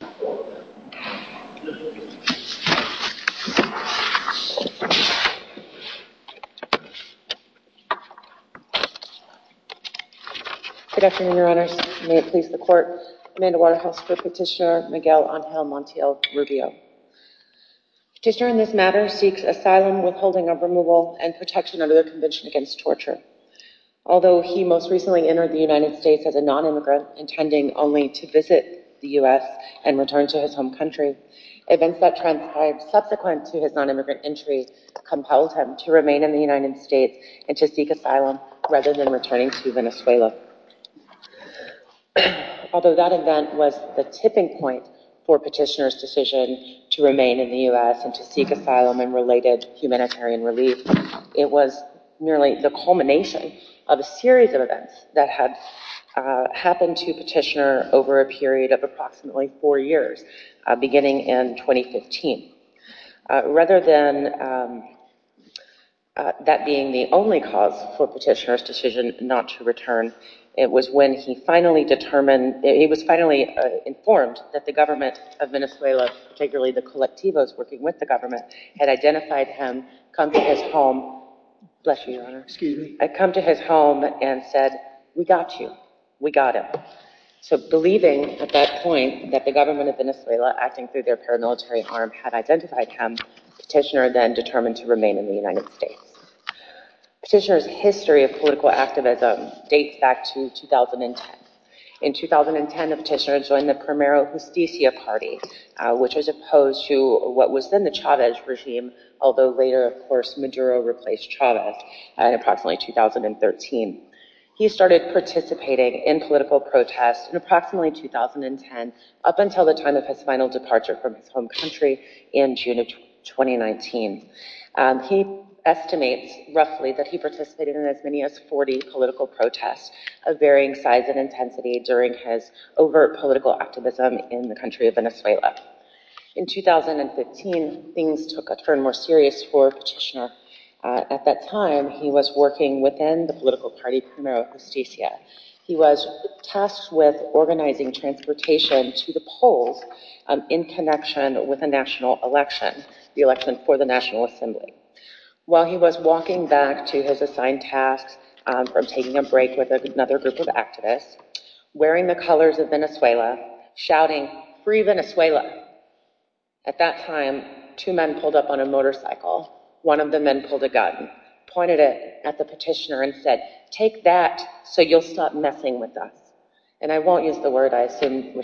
Good afternoon, Your Honors. May it please the Court, Amanda Waterhouse for Petitioner Miguel Angel Montiel Rubio. The petitioner in this matter seeks asylum, withholding of removal, and protection under the Convention Against Torture. Although he most recently entered the United States as a nonimmigrant, intending only to visit the U.S. and return to his home country, events that transpired subsequent to his nonimmigrant entry compelled him to remain in the United States and to seek asylum rather than returning to Venezuela. Although that event was the tipping point for Petitioner's decision to remain in the U.S. and to seek asylum and related humanitarian relief, it was merely the culmination of a crisis that had happened to Petitioner over a period of approximately four years, beginning in 2015. Rather than that being the only cause for Petitioner's decision not to return, it was when he was finally informed that the government of Venezuela, particularly the colectivos working with the government, had identified him, come to his home and said, we got you. We got him. So believing at that point that the government of Venezuela, acting through their paramilitary arm, had identified him, Petitioner then determined to remain in the United States. Petitioner's history of political activism dates back to 2010. In 2010, Petitioner joined the Primero Justicia Party, which was opposed to what was then the Chávez regime, although later, of course, Maduro replaced Chávez in approximately 2013. He started participating in political protests in approximately 2010, up until the time of his final departure from his home country in June of 2019. He estimates, roughly, that he participated in as many as 40 political protests of varying size and intensity during his overt political activism in the country of Venezuela. In 2015, things took a turn more serious for Petitioner. At that time, he was working within the political party Primero Justicia. He was tasked with organizing transportation to the polls in connection with a national election, the election for the National Assembly. While he was walking back to his assigned tasks, from taking a break with another group of activists, wearing the colors of Venezuela, shouting, free Venezuela. At that time, two men pulled up on a motor cycle. One of the men pulled a gun, pointed it at the Petitioner, and said, take that so you'll stop messing with us. And I won't use the word, I assume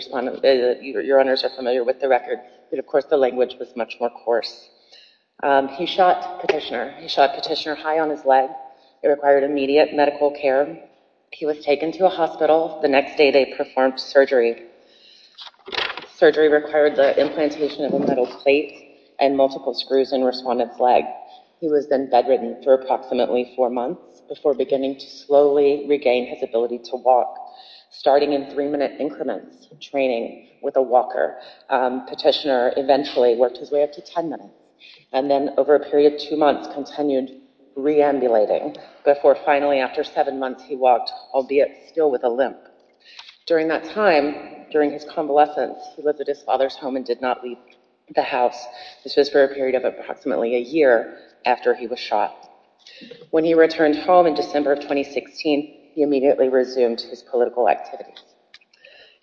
your owners are familiar with the record, but of course, the language was much more coarse. He shot Petitioner high on his leg. It required immediate medical care. He was taken to a hospital. The next day, they performed surgery. Surgery required the implantation of a metal plate and multiple screws in respondent's leg. He was then bedridden for approximately four months before beginning to slowly regain his ability to walk. Starting in three minute increments training with a walker, Petitioner eventually worked his way up to ten minutes. And then over a period of two months, continued re-ambulating before finally after seven months, he walked, albeit still with a limp. During that time, during his convalescence, he lived at his home for a period of approximately a year after he was shot. When he returned home in December of 2016, he immediately resumed his political activities.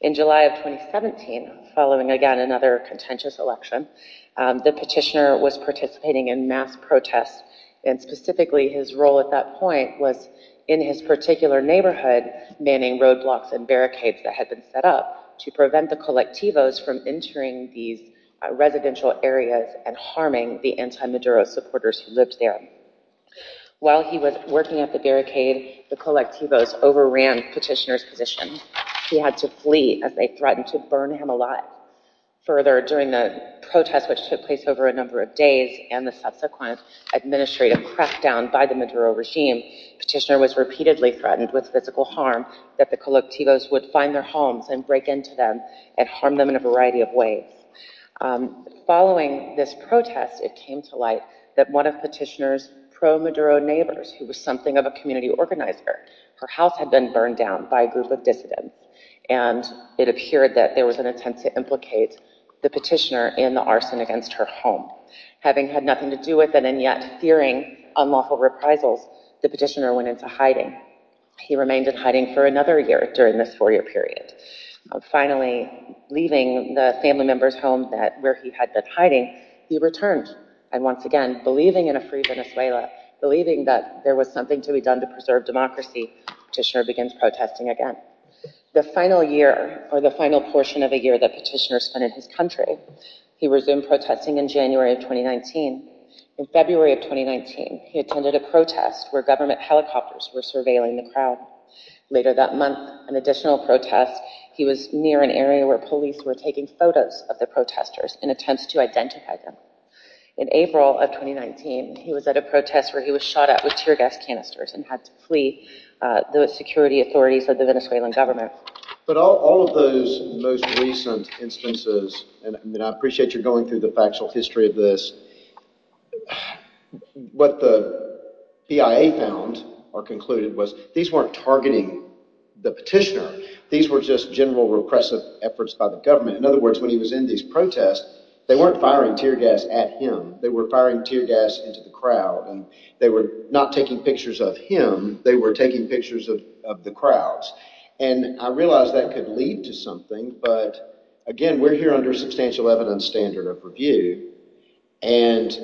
In July of 2017, following again another contentious election, the Petitioner was participating in mass protests, and specifically his role at that point was in his particular neighborhood, manning roadblocks and barricades that had been set up to prevent the colectivos from entering these residential areas and harming the anti-Maduro supporters who lived there. While he was working at the barricade, the colectivos overran Petitioner's position. He had to flee as they threatened to burn him alive. Further, during the protests, which took place over a number of days, and the subsequent administrative crackdown by the Maduro regime, Petitioner was repeatedly threatened with physical harm that the colectivos would find their homes and break into them and harm them in a variety of ways. Following this protest, it came to light that one of Petitioner's pro-Maduro neighbors, who was something of a community organizer, her house had been burned down by a group of dissidents, and it appeared that there was an attempt to implicate the Petitioner in the arson against her home. Having had nothing to do with it, and yet fearing unlawful reprisals, the Petitioner went into hiding. He remained in hiding for another year during this four-year period. Finally, leaving the family member's home where he had been hiding, he returned. And once again, believing in a free Venezuela, believing that there was something to be done to preserve democracy, Petitioner begins protesting again. The final year, or the final portion of a year that Petitioner spent in his country, he resumed protesting in January of 2019. In February of 2019, he attended a protest where helicopters were surveilling the crowd. Later that month, an additional protest, he was near an area where police were taking photos of the protesters in attempts to identify them. In April of 2019, he was at a protest where he was shot at with tear gas canisters and had to flee the security authorities of the Venezuelan government. But all of those most recent instances, and I appreciate you going through the factual history of this, what the PIA found or concluded was these weren't targeting the Petitioner. These were just general repressive efforts by the government. In other words, when he was in these protests, they weren't firing tear gas at him. They were firing tear gas into the crowd, and they were not taking pictures of him. They were taking pictures of the crowds. And I realized that could lead to something, but again, we're here under a substantial evidence standard of review. And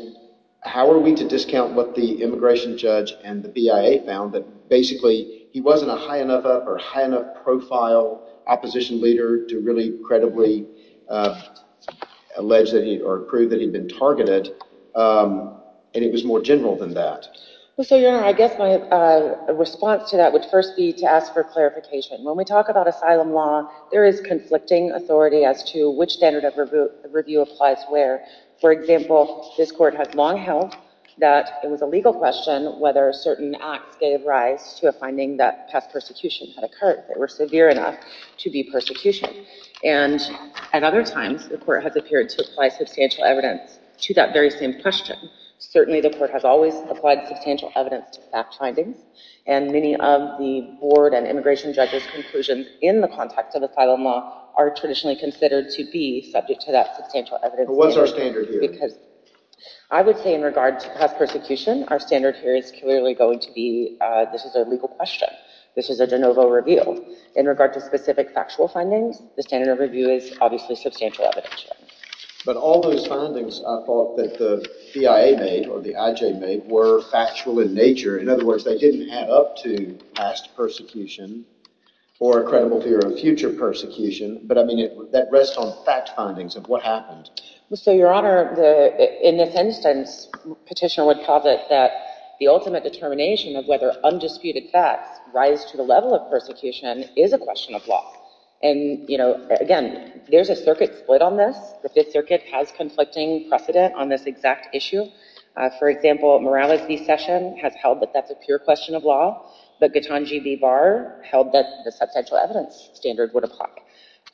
how are we to discount what the immigration judge and the PIA found that basically he wasn't a high enough or high enough profile opposition leader to really credibly allege that he or prove that he'd been targeted. And it was more general than that. Well, so your Honor, I guess my response to that would first be to ask for clarification. When we talk about asylum law, there is conflicting authority as to which standard of review applies where. For example, this court has long held that it was a legal question whether certain acts gave rise to a finding that past persecution had occurred that were severe enough to be persecution. And at other times, the court has appeared to apply substantial evidence to that very same question. Certainly the court has always applied substantial evidence to fact findings, and many of the board and immigration judge's conclusions in the context of asylum law are traditionally considered to be subject to that substantial evidence. What's our standard here? Because I would say in regard to past persecution, our standard here is clearly going to be this is a legal question. This is a de novo review. In regard to specific factual findings, the standard of review is obviously substantial evidence. But all those findings I thought that the PIA made or the IJ made were factual in nature. In other words, they didn't add up to past persecution or a credible fear of future persecution. But I mean, that rests on fact findings of what happened. So, Your Honor, in this instance, Petitioner would posit that the ultimate determination of whether undisputed facts rise to the level of persecution is a question of law. And again, there's a circuit split on this. The Fifth Circuit has conflicting precedent on this exact issue. For example, Morales v. Session has held that that's a pure question of law. But Gitanji v. Barr held that the substantial evidence standard would apply.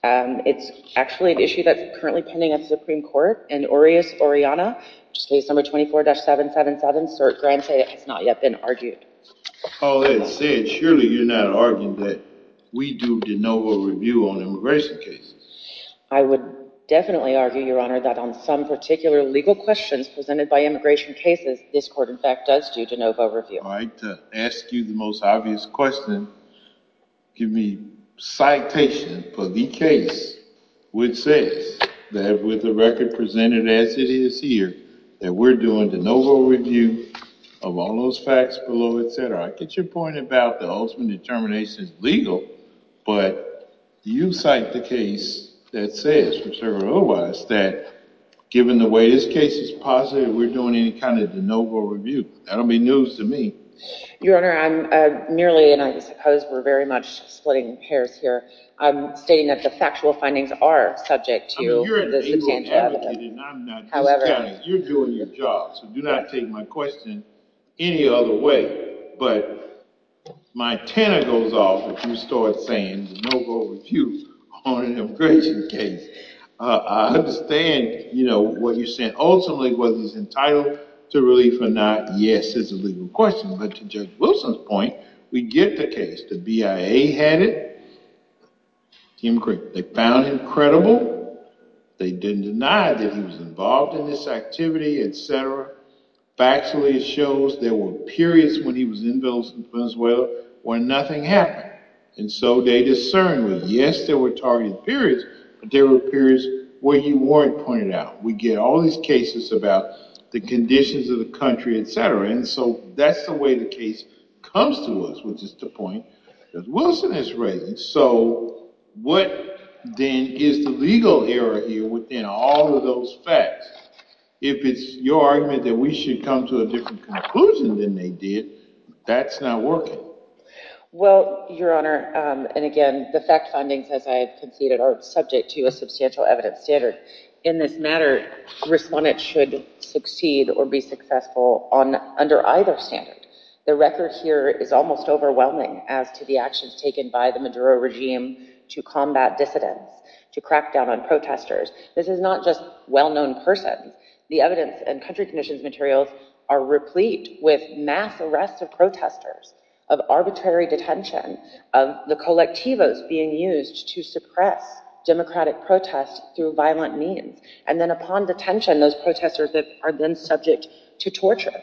It's actually an issue that's currently pending at the Supreme Court. And Orias v. Oriana, which is case number 24-777, cert grante, has not yet been argued. All that said, surely you're not arguing that we do de novo review on immigration cases. I would definitely argue, Your Honor, that on some particular legal questions presented by immigration cases, this court, in fact, does do de novo review. To ask you the most obvious question, give me a citation for the case which says, that with the record presented as it is here, that we're doing de novo review of all those facts below, et cetera. I get your point about the ultimate determination is legal. But you cite the case that says, whichever otherwise, that given the way this case is presented, we're doing any kind of de novo review. That'll be news to me. Your Honor, I'm merely, and I suppose we're very much splitting hairs here, I'm stating that the factual findings are subject to the substantial evidence. I'm not discounting. You're doing your job. So do not take my question any other way. But my antenna goes off if you start saying de novo review on an immigration case. I understand what you're saying. Ultimately, whether he's entitled to relief or not, yes, it's a legal question. But to Judge Wilson's point, we get the case. The BIA had it. They found him credible. They didn't deny that he was involved in this activity, et cetera. Factually, it shows there were periods when he was in Venezuela where nothing happened. And so they discern with, yes, there were targeted periods, but there were periods where he weren't pointed out. We get all these cases about the conditions of the country, et cetera. And so that's the way the case comes to us, which is the point that Wilson is raising. So what then is the legal error here within all of those facts? If it's your argument that we should come to a different conclusion than they did, that's not working. Well, Your Honor, and again, the fact findings as I have conceded are subject to a substantial evidence standard. In this matter, respondents should succeed or be successful under either standard. The record here is almost overwhelming as to the actions taken by the Maduro regime to combat dissidents, to crack down on protesters. This is not just well-known person. The evidence and country conditions materials are replete with mass arrests of protesters, of arbitrary detention, of the colectivos being used to suppress democratic protests through violent means. And then upon detention, those protesters are then subject to torture.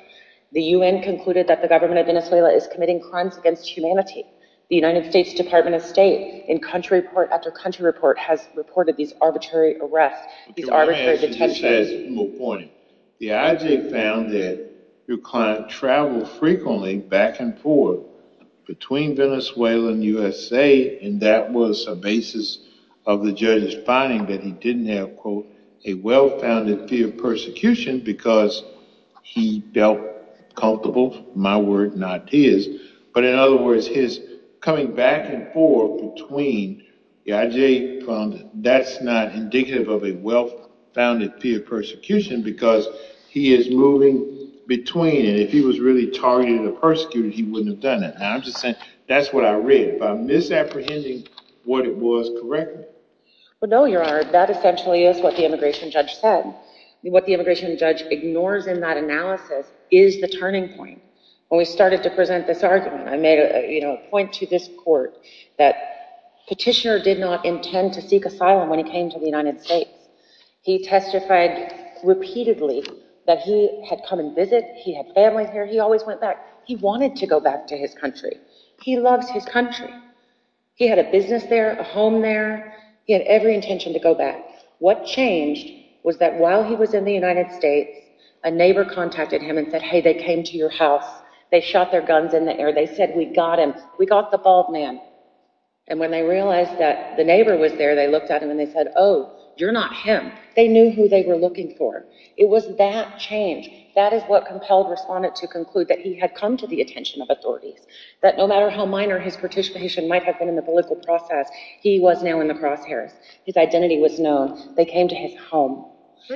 The UN concluded that the government of Venezuela is committing crimes against humanity. The United States Department of State, in country report after country report, has reported these arbitrary arrests, these arbitrary detentions. The IJ found that your client traveled frequently back and forth between Venezuela and USA, and that was a basis of the judge's finding that he didn't have, quote, a well-founded fear of persecution because he felt comfortable, my word, not his. But in other words, he didn't have a well-founded fear of persecution because he is moving between, and if he was really targeted or persecuted, he wouldn't have done it. And I'm just saying that's what I read. Am I misapprehending what it was correctly? Well, no, your honor. That essentially is what the immigration judge said. What the immigration judge ignores in that analysis is the turning point. When we started to present this argument, I made a point to this court that petitioner did not intend to seek asylum when he came to the United States. He testified repeatedly that he had come and visited. He had family here. He always went back. He wanted to go back to his country. He loves his country. He had a business there, a home there. He had every intention to go back. What changed was that while he was in the United States, a neighbor contacted him and said, hey, they came to your house. They shot their guns in the air. They said, we got him. We got the bald man. And when they realized that the neighbor was there, they looked at him and they said, oh, you're not him. They knew who they were looking for. It was that change. That is what compelled Respondent to conclude that he had come to the attention of authorities, that no matter how minor his participation might have been in the political process, he was now in the crosshairs. His identity was known. They came to his home.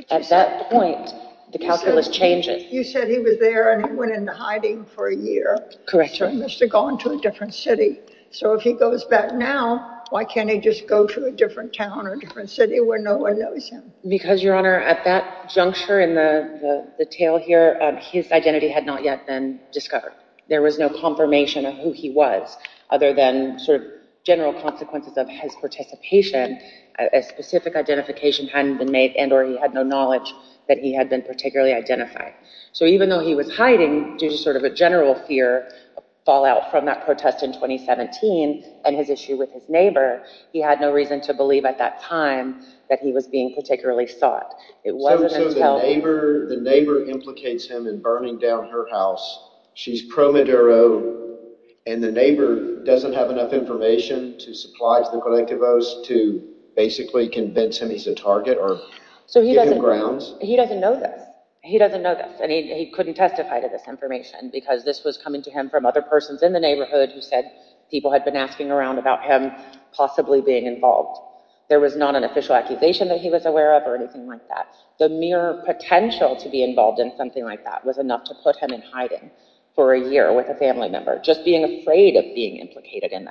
At that point, the calculus changes. You said he was there and went into hiding for a year. He must have gone to a different city. So if he goes back now, why can't he just go to a different town or a different city where no one knows him? Because, Your Honor, at that juncture in the tale here, his identity had not yet been discovered. There was no confirmation of who he was other than sort of general consequences of his participation. A specific identification hadn't been made and or he had no knowledge that he had been particularly identified. So even though he was hiding due to sort of a general fear fallout from that protest in 2017 and his issue with his neighbor, he had no reason to believe at that time that he was being particularly sought. It wasn't until the neighbor implicates him in burning down her house. She's pro Maduro and the neighbor doesn't have enough information to supply to the collectivos to basically convince him he's a target or give him grounds. He doesn't know this. He doesn't know this and he couldn't testify to this information because this was coming to him from other persons in the neighborhood who said people had been asking around about him possibly being involved. There was not an official accusation that he was aware of or anything like that. The mere potential to be involved in something like that was enough to put him in hiding for a year with a family member. Just being afraid of being implicated in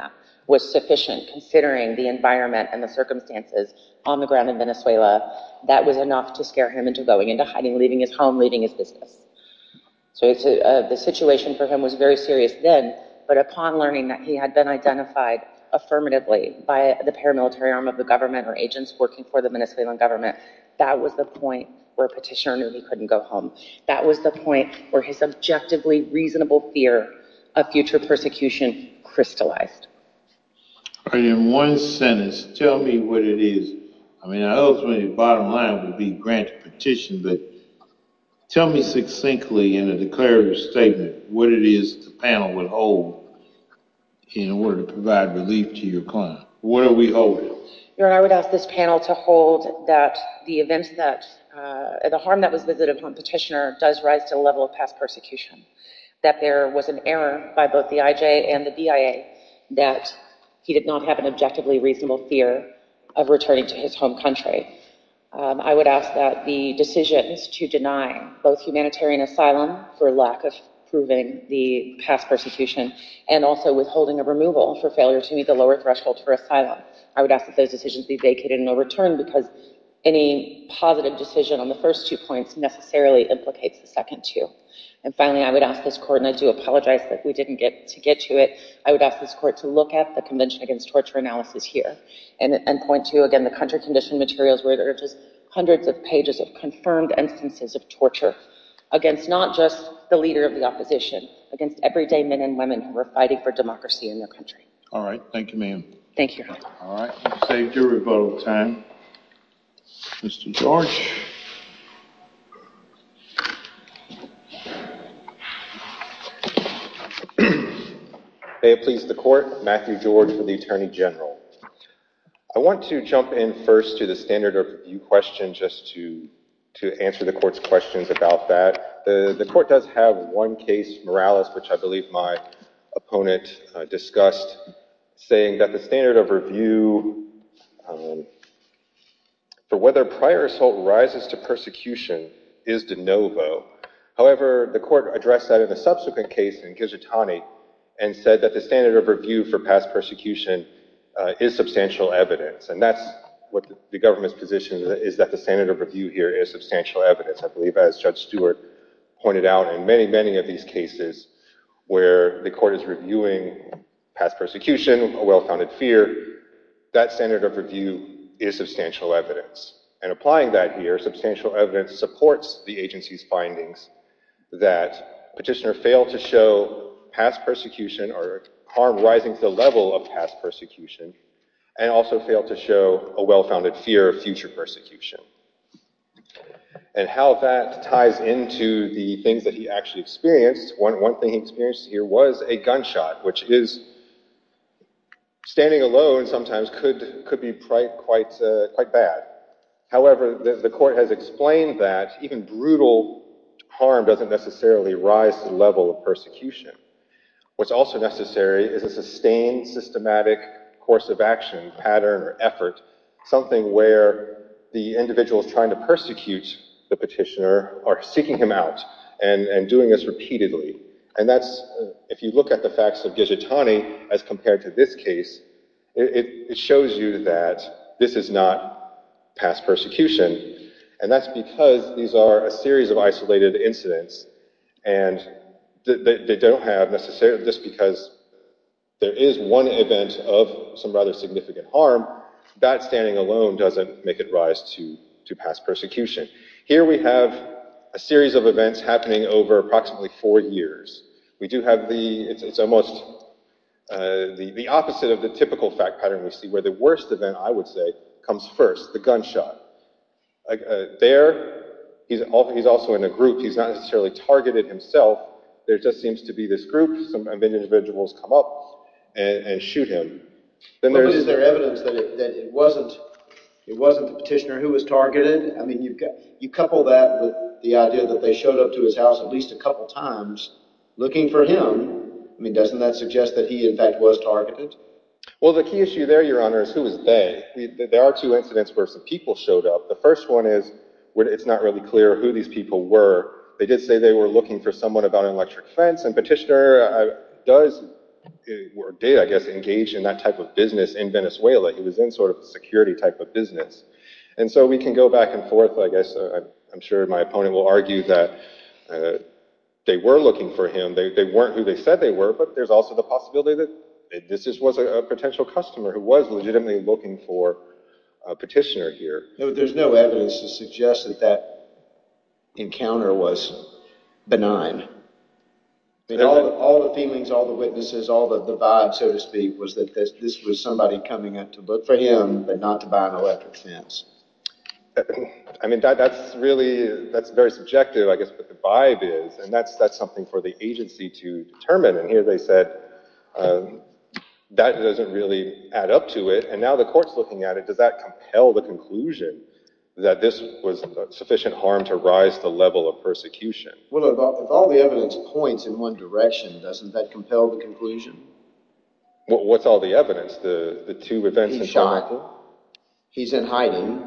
was sufficient considering the environment and the circumstances on the ground in Venezuela. That was enough to scare him into going into hiding, leaving his home, leaving his business. So the situation for him was very serious then, but upon learning that he had been identified affirmatively by the paramilitary arm of the government or agents working for the Venezuelan government, that was the point where Petitioner knew he couldn't go home. That was the point where his objectively reasonable fear of future persecution crystallized. All right, in one sentence, tell me what it is. I mean, I hope the bottom line would be grant petition, but tell me succinctly in a declarative statement what it is the panel would hold in order to provide relief to your client. What are we holding? Your Honor, I would ask this panel to hold that the event that the harm that was visited Petitioner does rise to the level of past persecution, that there was an error by both the IJ and the BIA that he did not have an objectively reasonable fear of returning to his home country. I would ask that the decisions to deny both humanitarian asylum for lack of proving the past persecution and also withholding a removal for failure to meet the lower threshold for asylum, I would ask that those decisions be vacated and overturned because any positive decision on the first two points necessarily implicates the second two. And finally, I would ask this court, and I do apologize that we didn't get to get to it, I would ask this court to look at the Convention Against Torture analysis here and point to, again, the country condition materials where there are just hundreds of pages of confirmed instances of torture against not just the leader of the opposition, against everyday men and women who are fighting for democracy in their country. All right, thank you, ma'am. Thank you. All right, you saved your rebuttal time. Mr. George. May it please the court, Matthew George for the Attorney General. I want to jump in first to the standard of review question just to answer the court's questions about that. The court does have one case, Morales, which I believe my opponent discussed, saying that the standard of review for whether prior assault rises to persecution is de novo. However, the court addressed that in a subsequent case in Ghizzatani and said that the standard of review for past persecution is substantial evidence. And that's what the government's position is that the standard of review here is substantial evidence. I believe, as Judge Stewart pointed out, in many, many of the cases where the court is reviewing past persecution, a well-founded fear, that standard of review is substantial evidence. And applying that here, substantial evidence supports the agency's findings that Petitioner failed to show past persecution or harm rising to the level of past persecution and also failed to show a well-founded fear of future persecution. And how that ties into the things that he actually experienced, one thing he experienced here was a gunshot, which is standing alone sometimes could be quite bad. However, the court has explained that even brutal harm doesn't necessarily rise to the level of persecution. What's also necessary is a trying to persecute the petitioner or seeking him out and doing this repeatedly. And that's, if you look at the facts of Ghizzatani as compared to this case, it shows you that this is not past persecution. And that's because these are a series of isolated incidents. And they don't have necessarily just because there is one event of some rather significant harm, that standing alone doesn't make it rise to past persecution. Here we have a series of events happening over approximately four years. We do have the, it's almost the opposite of the typical fact pattern we see where the worst event, I would say, comes first, the gunshot. There, he's also in a group, he's not necessarily targeted himself. There just seems to be this group, some individuals come up and shoot him. But is there evidence that it wasn't the petitioner who was targeted? I mean, you've got, you couple that with the idea that they showed up to his house at least a couple times looking for him. I mean, doesn't that suggest that he in fact was targeted? Well, the key issue there, Your Honor, is who was they? There are two incidents where some people showed up. The first one is, it's not really clear who these people were. They did say they were looking for someone about an electric fence, and Petitioner does, or did, I guess, engage in that type of business in Venezuela. He was in sort of a security type of business. And so we can go back and forth, I guess. I'm sure my opponent will argue that they were looking for him. They weren't who they said they were, but there's also the possibility that this was a potential customer who was legitimately looking for Petitioner here. There's no evidence to suggest that that encounter was benign. All the feelings, all the witnesses, all the vibe, so to speak, was that this was somebody coming up to look for him, but not to buy an electric fence. I mean, that's really, that's very subjective, I guess, what the vibe is, and that's something for the agency to determine. And here they said that doesn't really add up to it. And now the court's looking at it. Does that compel the conclusion that this was sufficient harm to rise the level of persecution? Well, if all the evidence points in one direction, doesn't that compel the conclusion? What's all the evidence? The two events? He's shot. He's in hiding.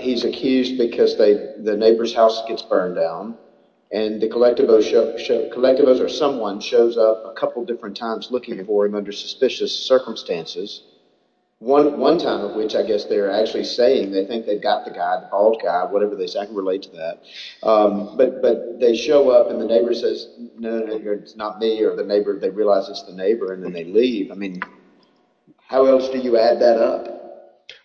He's accused because the neighbor's house gets burned down, and the colectivo or someone shows up a couple of minutes later, and they realize it's the neighbor, and then they leave. I mean, how else do you add that up?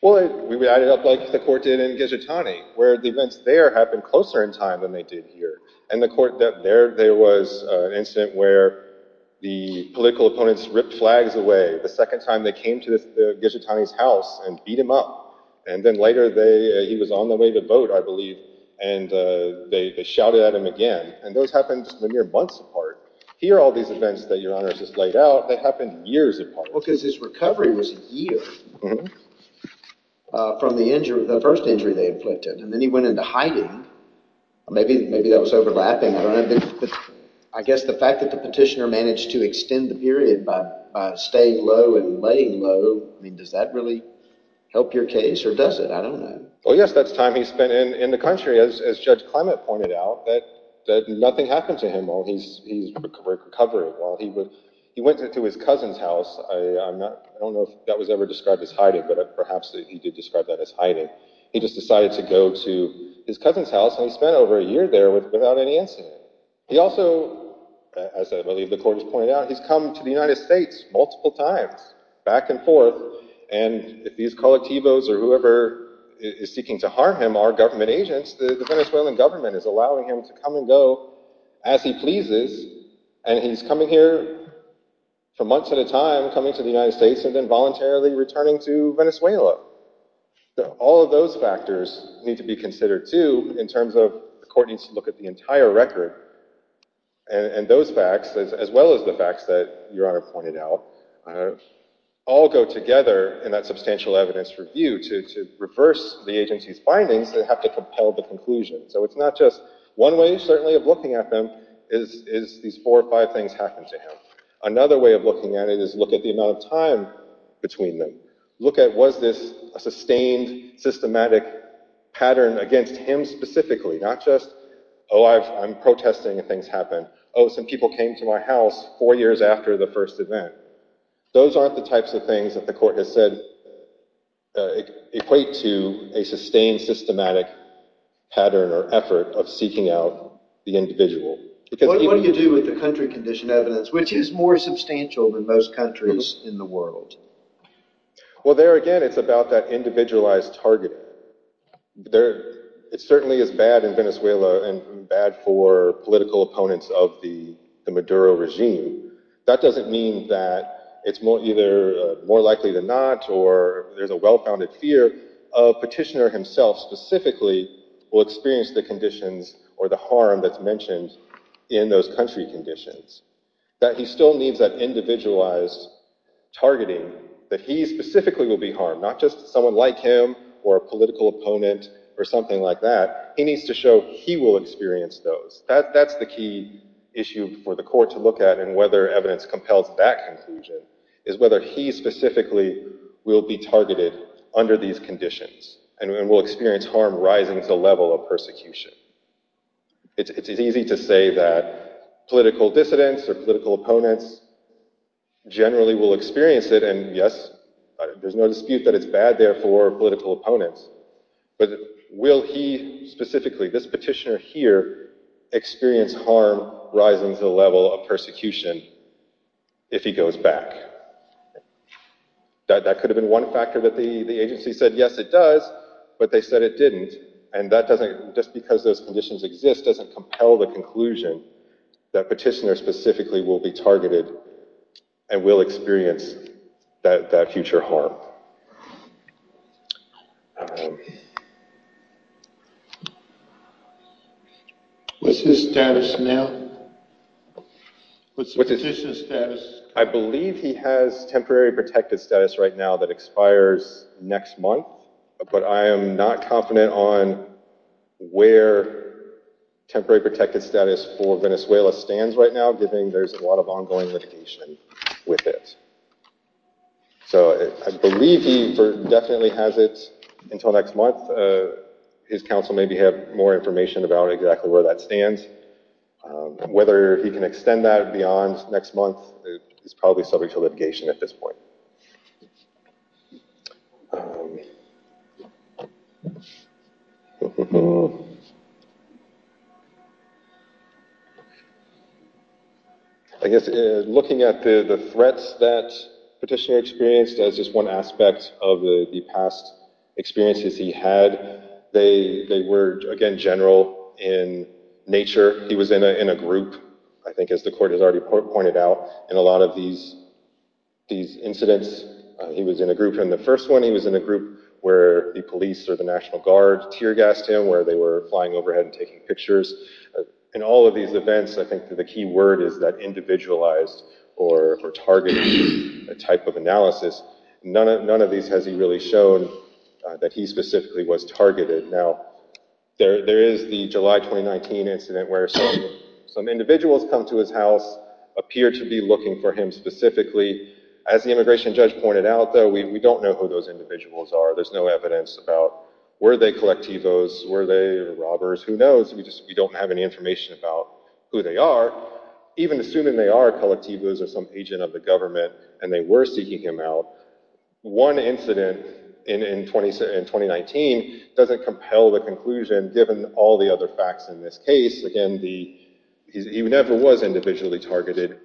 Well, we add it up like the court did in Ghijotani, where the events there happened closer in time than they did here. In the court there, there was an incident where the political opponents ripped flags away the second time they came to Ghijotani's house and beat him up, and then later he was on the way to vote, I believe, and they shouted at him again. And those happened just a mere months apart. Here, all these events that Your Honor has just laid out, they happened years apart. Well, because his recovery was a year from the first injury they inflicted, and then he went into hiding. Maybe that was overlapping. I guess the fact that the petitioner to extend the period by staying low and laying low, I mean, does that really help your case, or does it? I don't know. Well, yes, that's time he spent in the country. As Judge Clement pointed out, nothing happened to him while he was recovering. He went to his cousin's house. I don't know if that was ever described as hiding, but perhaps he did describe that as hiding. He just decided to go to his cousin's house, and he spent over a year there without any incident. He also, as I believe the court has pointed out, he's come to the United States multiple times, back and forth, and if these colectivos or whoever is seeking to harm him are government agents, the Venezuelan government is allowing him to come and go as he pleases, and he's coming here for months at a time, coming to the United States, and then voluntarily returning to Venezuela. All of those factors need to be considered, too, in terms of the court needs to look at the entire record, and those facts, as well as the facts that Your Honor pointed out, all go together in that substantial evidence review to reverse the agency's findings that have to compel the conclusion. So it's not just one way, certainly, of looking at them, is these four or five things happened to him. Another way of looking at it is look at the amount of time between them. Look at was this a sustained, systematic pattern against him specifically, not just, oh, I'm protesting things happen. Oh, some people came to my house four years after the first event. Those aren't the types of things that the court has said equate to a sustained, systematic pattern or effort of seeking out the individual. What do you do with the country condition evidence, which is more substantial than most countries in the world? Well, there again, it's about that individualized target. It certainly is bad in Venezuela and bad for political opponents of the Maduro regime. That doesn't mean that it's either more likely than not, or there's a well-founded fear of petitioner himself specifically will experience the conditions or the harm that's mentioned in those country conditions, that he still needs that individualized targeting, that he specifically will be harmed, not just someone like him or a political opponent or something like that. He needs to show he will experience those. That's the key issue for the court to look at, and whether evidence compels that conclusion, is whether he specifically will be targeted under these conditions and will experience harm rising to the level of persecution. It's easy to say that political dissidents or political opponents generally will experience it, and yes, there's no dispute that it's bad there for political opponents, but will he specifically, this petitioner here, experience harm rising to the level of persecution if he goes back? That could have been one factor that the agency said, yes, it does, but they said it didn't, and that doesn't, just because those conditions exist, doesn't compel the conclusion that petitioner specifically will be targeted and will experience that future harm. What's his status now? What's the petitioner's status? I believe he has temporary protected status right now that expires next month, but I am not confident on where temporary protected status for Venezuela stands right now, given there's a lot of ongoing litigation with it. So I believe he definitely has it until next month. His counsel may have more information about exactly where that stands. Whether he can extend that beyond next month is probably subject to litigation at this point. I guess looking at the threats that petitioner experienced as just one aspect of the past experiences he had, they were, again, general in nature. He was in a group, I think, as the court has already pointed out, in a lot of these incidents, he was in a group. In the first one, he was in a group where the police or the National Guard tear gassed him, where they were flying overhead and taking pictures. In all of these events, I think the key word is that individualized or targeted type of analysis. None of these has he really shown that he specifically was targeted. Now, there is the July 2019 incident where some individuals come to his house, appear to be looking for him specifically. As the immigration judge pointed out, though, we don't know who those individuals are. There's no evidence about were they colectivos, were they robbers? Who knows? We don't have any information about who they are. Even assuming they are colectivos or some agent of the government and they were seeking him out, one incident in 2019 doesn't compel the conclusion given all the other facts in this case. Again, he never was individually targeted.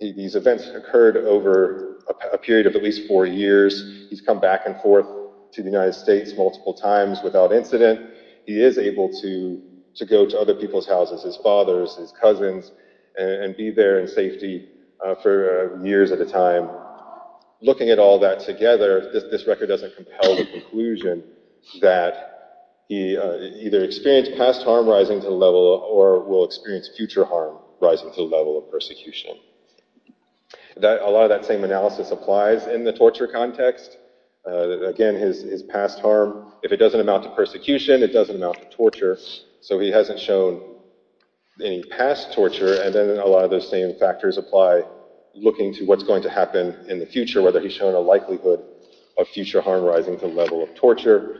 These events occurred over a period of at least four years. He's come back and forth to the United States multiple times without incident. He is able to go to other people's houses, his father's, his cousin's, and be there in safety for years at a time. Looking at all that together, this record doesn't compel the conclusion that he either experienced past harm rising to the level or will experience future harm rising to the level of persecution. A lot of that same analysis applies in the torture context. Again, his past harm, if it doesn't amount to persecution, it doesn't amount to torture. So he hasn't shown any past torture. And then a lot of those same factors apply looking to what's going to happen in the future, whether he's shown a likelihood of future harm rising to the level of torture.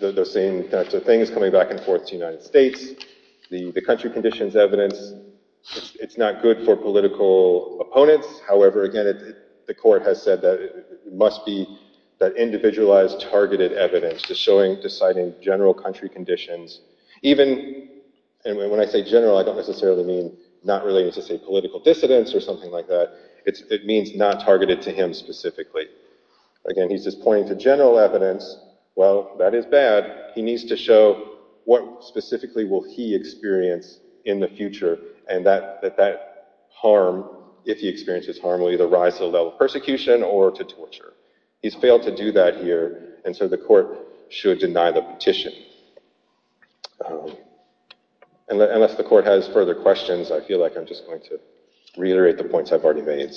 Those same things coming back and forth to the United States. The country conditions evidence, it's not good for political opponents. However, again, the court has said that it must be that individualized, targeted evidence, just showing, deciding general country conditions. Even when I say general, I don't necessarily mean not related to, say, political dissidents or something like that. It means not targeted to him specifically. Again, he's just pointing to general evidence. Well, that is bad. He needs to show what specifically will he experience in the future, and that harm, if he experiences harm, will either rise to the level of persecution or to torture. He's failed to do that here, and so the court should deny the petition. Unless the court has further questions, I feel like I'm just going to reiterate the points I've already made.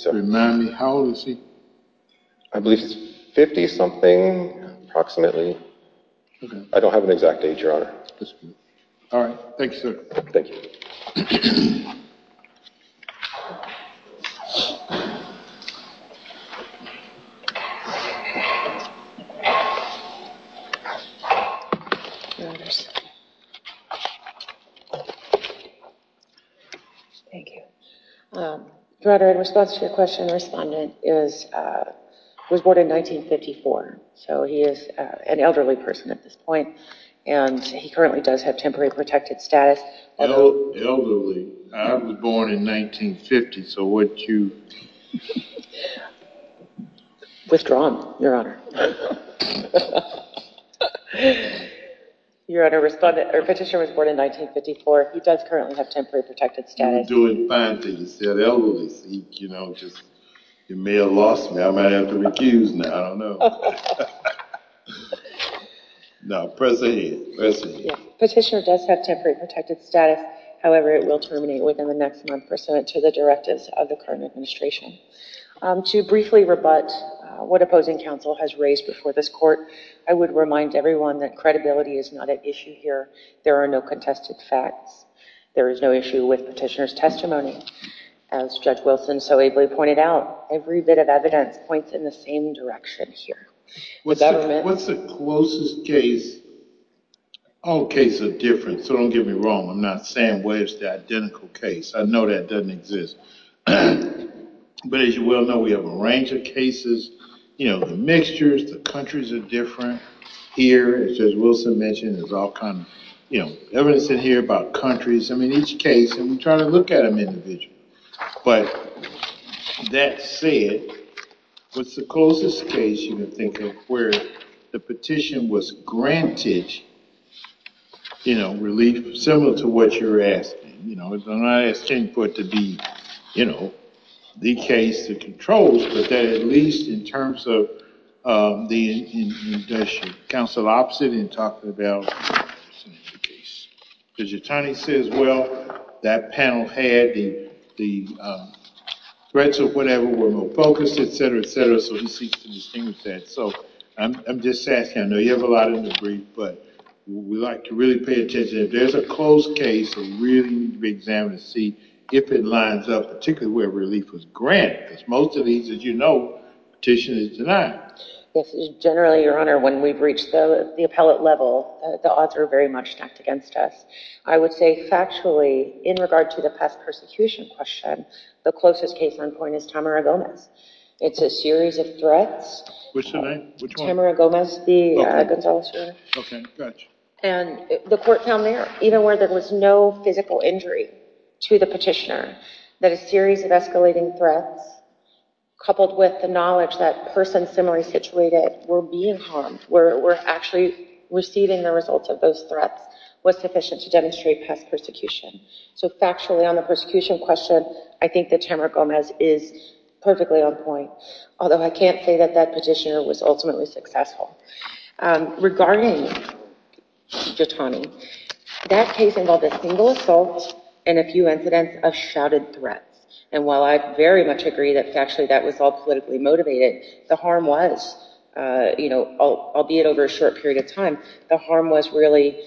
How old is he? I believe he's 50-something, approximately. I don't have an exact age, Your Honor. All right. Thank you, sir. Thank you. Thank you. Your Honor, in response to your question, the respondent was born in 1954, so he is an elderly person at this point, and he currently does have temporary protected status. Elderly? I was born in 1950, so what you... Withdrawn, Your Honor. Your Honor, the petitioner was born in 1954. He does currently have temporary protected status. He's doing fine. He said elderly. He may have lost me. I might have to recuse now. I don't know. No, press ahead. Press ahead. Petitioner does have temporary protected status. However, it will terminate within the next month pursuant to the directives of the current administration. To briefly rebut what opposing counsel has raised before this court, I would remind everyone that credibility is not an issue here. There are no contested facts. There is no issue with petitioner's testimony. As Judge Wilson so ably pointed out, every bit of evidence points in the same direction here. What's the closest case? All cases are different, so don't get me wrong. I'm not saying where's the identical case. I know that doesn't exist, but as you well know, we have a range of cases. The mixtures, the countries are different. Here, as Judge Wilson mentioned, there's all kinds of evidence in here about countries. I mean, each case, and we try to look at them individually, but that said, what's the closest case you can think of where the petition was granted relief similar to what you're asking? I'm not asking for it to be the case that controls, but at least in terms of counsel opposite and talking about the case. Judge Yatani says, well, that panel had the threats of whatever were more focused, et cetera, et cetera, so he seeks to distinguish that. I'm just asking. I know you have a lot in the brief, but we like to really pay attention. If there's a close case, we really need to examine and see if it lines up, particularly where relief was granted, because most of these, as you know, petition is denied. Yes. Generally, Your Honor, when we've reached the appellate level, the odds are very much stacked against us. I would say factually, in regard to the past persecution question, the closest case on point is Tamara Gomez. It's a series of threats. Which one? Tamara Gomez, the Gonzales case. The court found there, even where there was no physical injury to the petitioner, that a series of escalating threats, coupled with the knowledge that persons similarly situated were being harmed, were actually receiving the results of those threats, was sufficient to demonstrate past persecution. Factually, on the persecution question, I think that Tamara Gomez is perfectly on point, although I can't say that that petitioner was ultimately successful. Regarding Giattani, that case involved a single assault and a few incidents of shouted threats. And while I very much agree that factually that was all politically motivated, the harm was, you know, albeit over a short period of time, the harm was really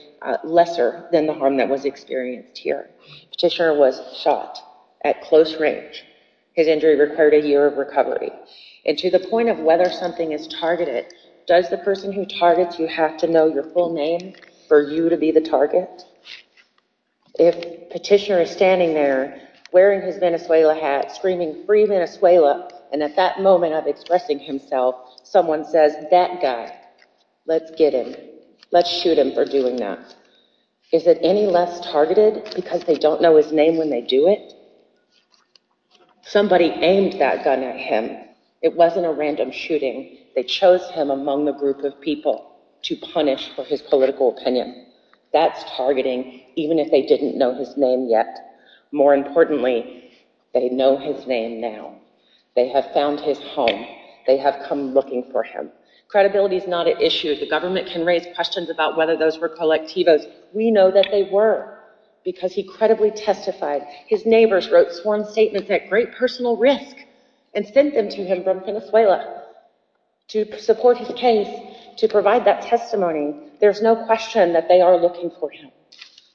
lesser than the harm that was experienced here. Petitioner was shot at close range. His injury required a year of recovery. And to the point of whether something is targeted, does the person who targets you have to know your full name for you to be the target? If petitioner is standing there, wearing his Venezuela hat, screaming, free Venezuela, and at that moment of expressing himself, someone says, that guy, let's get him. Let's shoot him for doing that. Is it any less targeted because they don't know his name when they do it? Somebody aimed that gun at him. It wasn't a random shooting. They chose him among the group of people to punish for his political opinion. That's targeting, even if they didn't know his name yet. More importantly, they know his name now. They have found his home. They have come looking for him. Credibility is not an issue. The government can raise questions about whether those were colectivos. We know that they were because he credibly testified. His neighbors wrote sworn statements at great personal risk and sent them to him from Venezuela to support his case, to provide that testimony. There's no question that they are looking for him.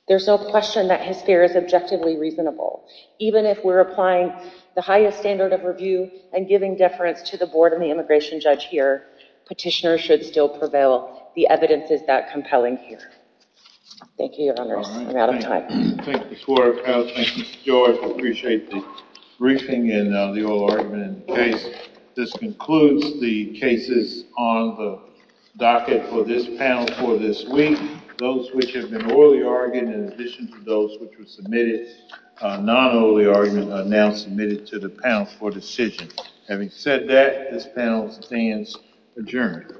There's no question that his fear is objectively reasonable. Even if we're applying the highest standard of review and giving deference to the board and the immigration judge here, petitioner should still prevail. The evidence is that compelling here. Thank you, your honors. I'm out of time. Thank you, Ms. Waterhouse. Thank you, Mr. George. I appreciate the briefing and the oral argument in the case. This concludes the cases on the docket for this panel for this week. Those which have been orally argued, in addition to those which were submitted, non-orally argued, are now submitted to the panel for decision. Having said that, this panel stands adjourned.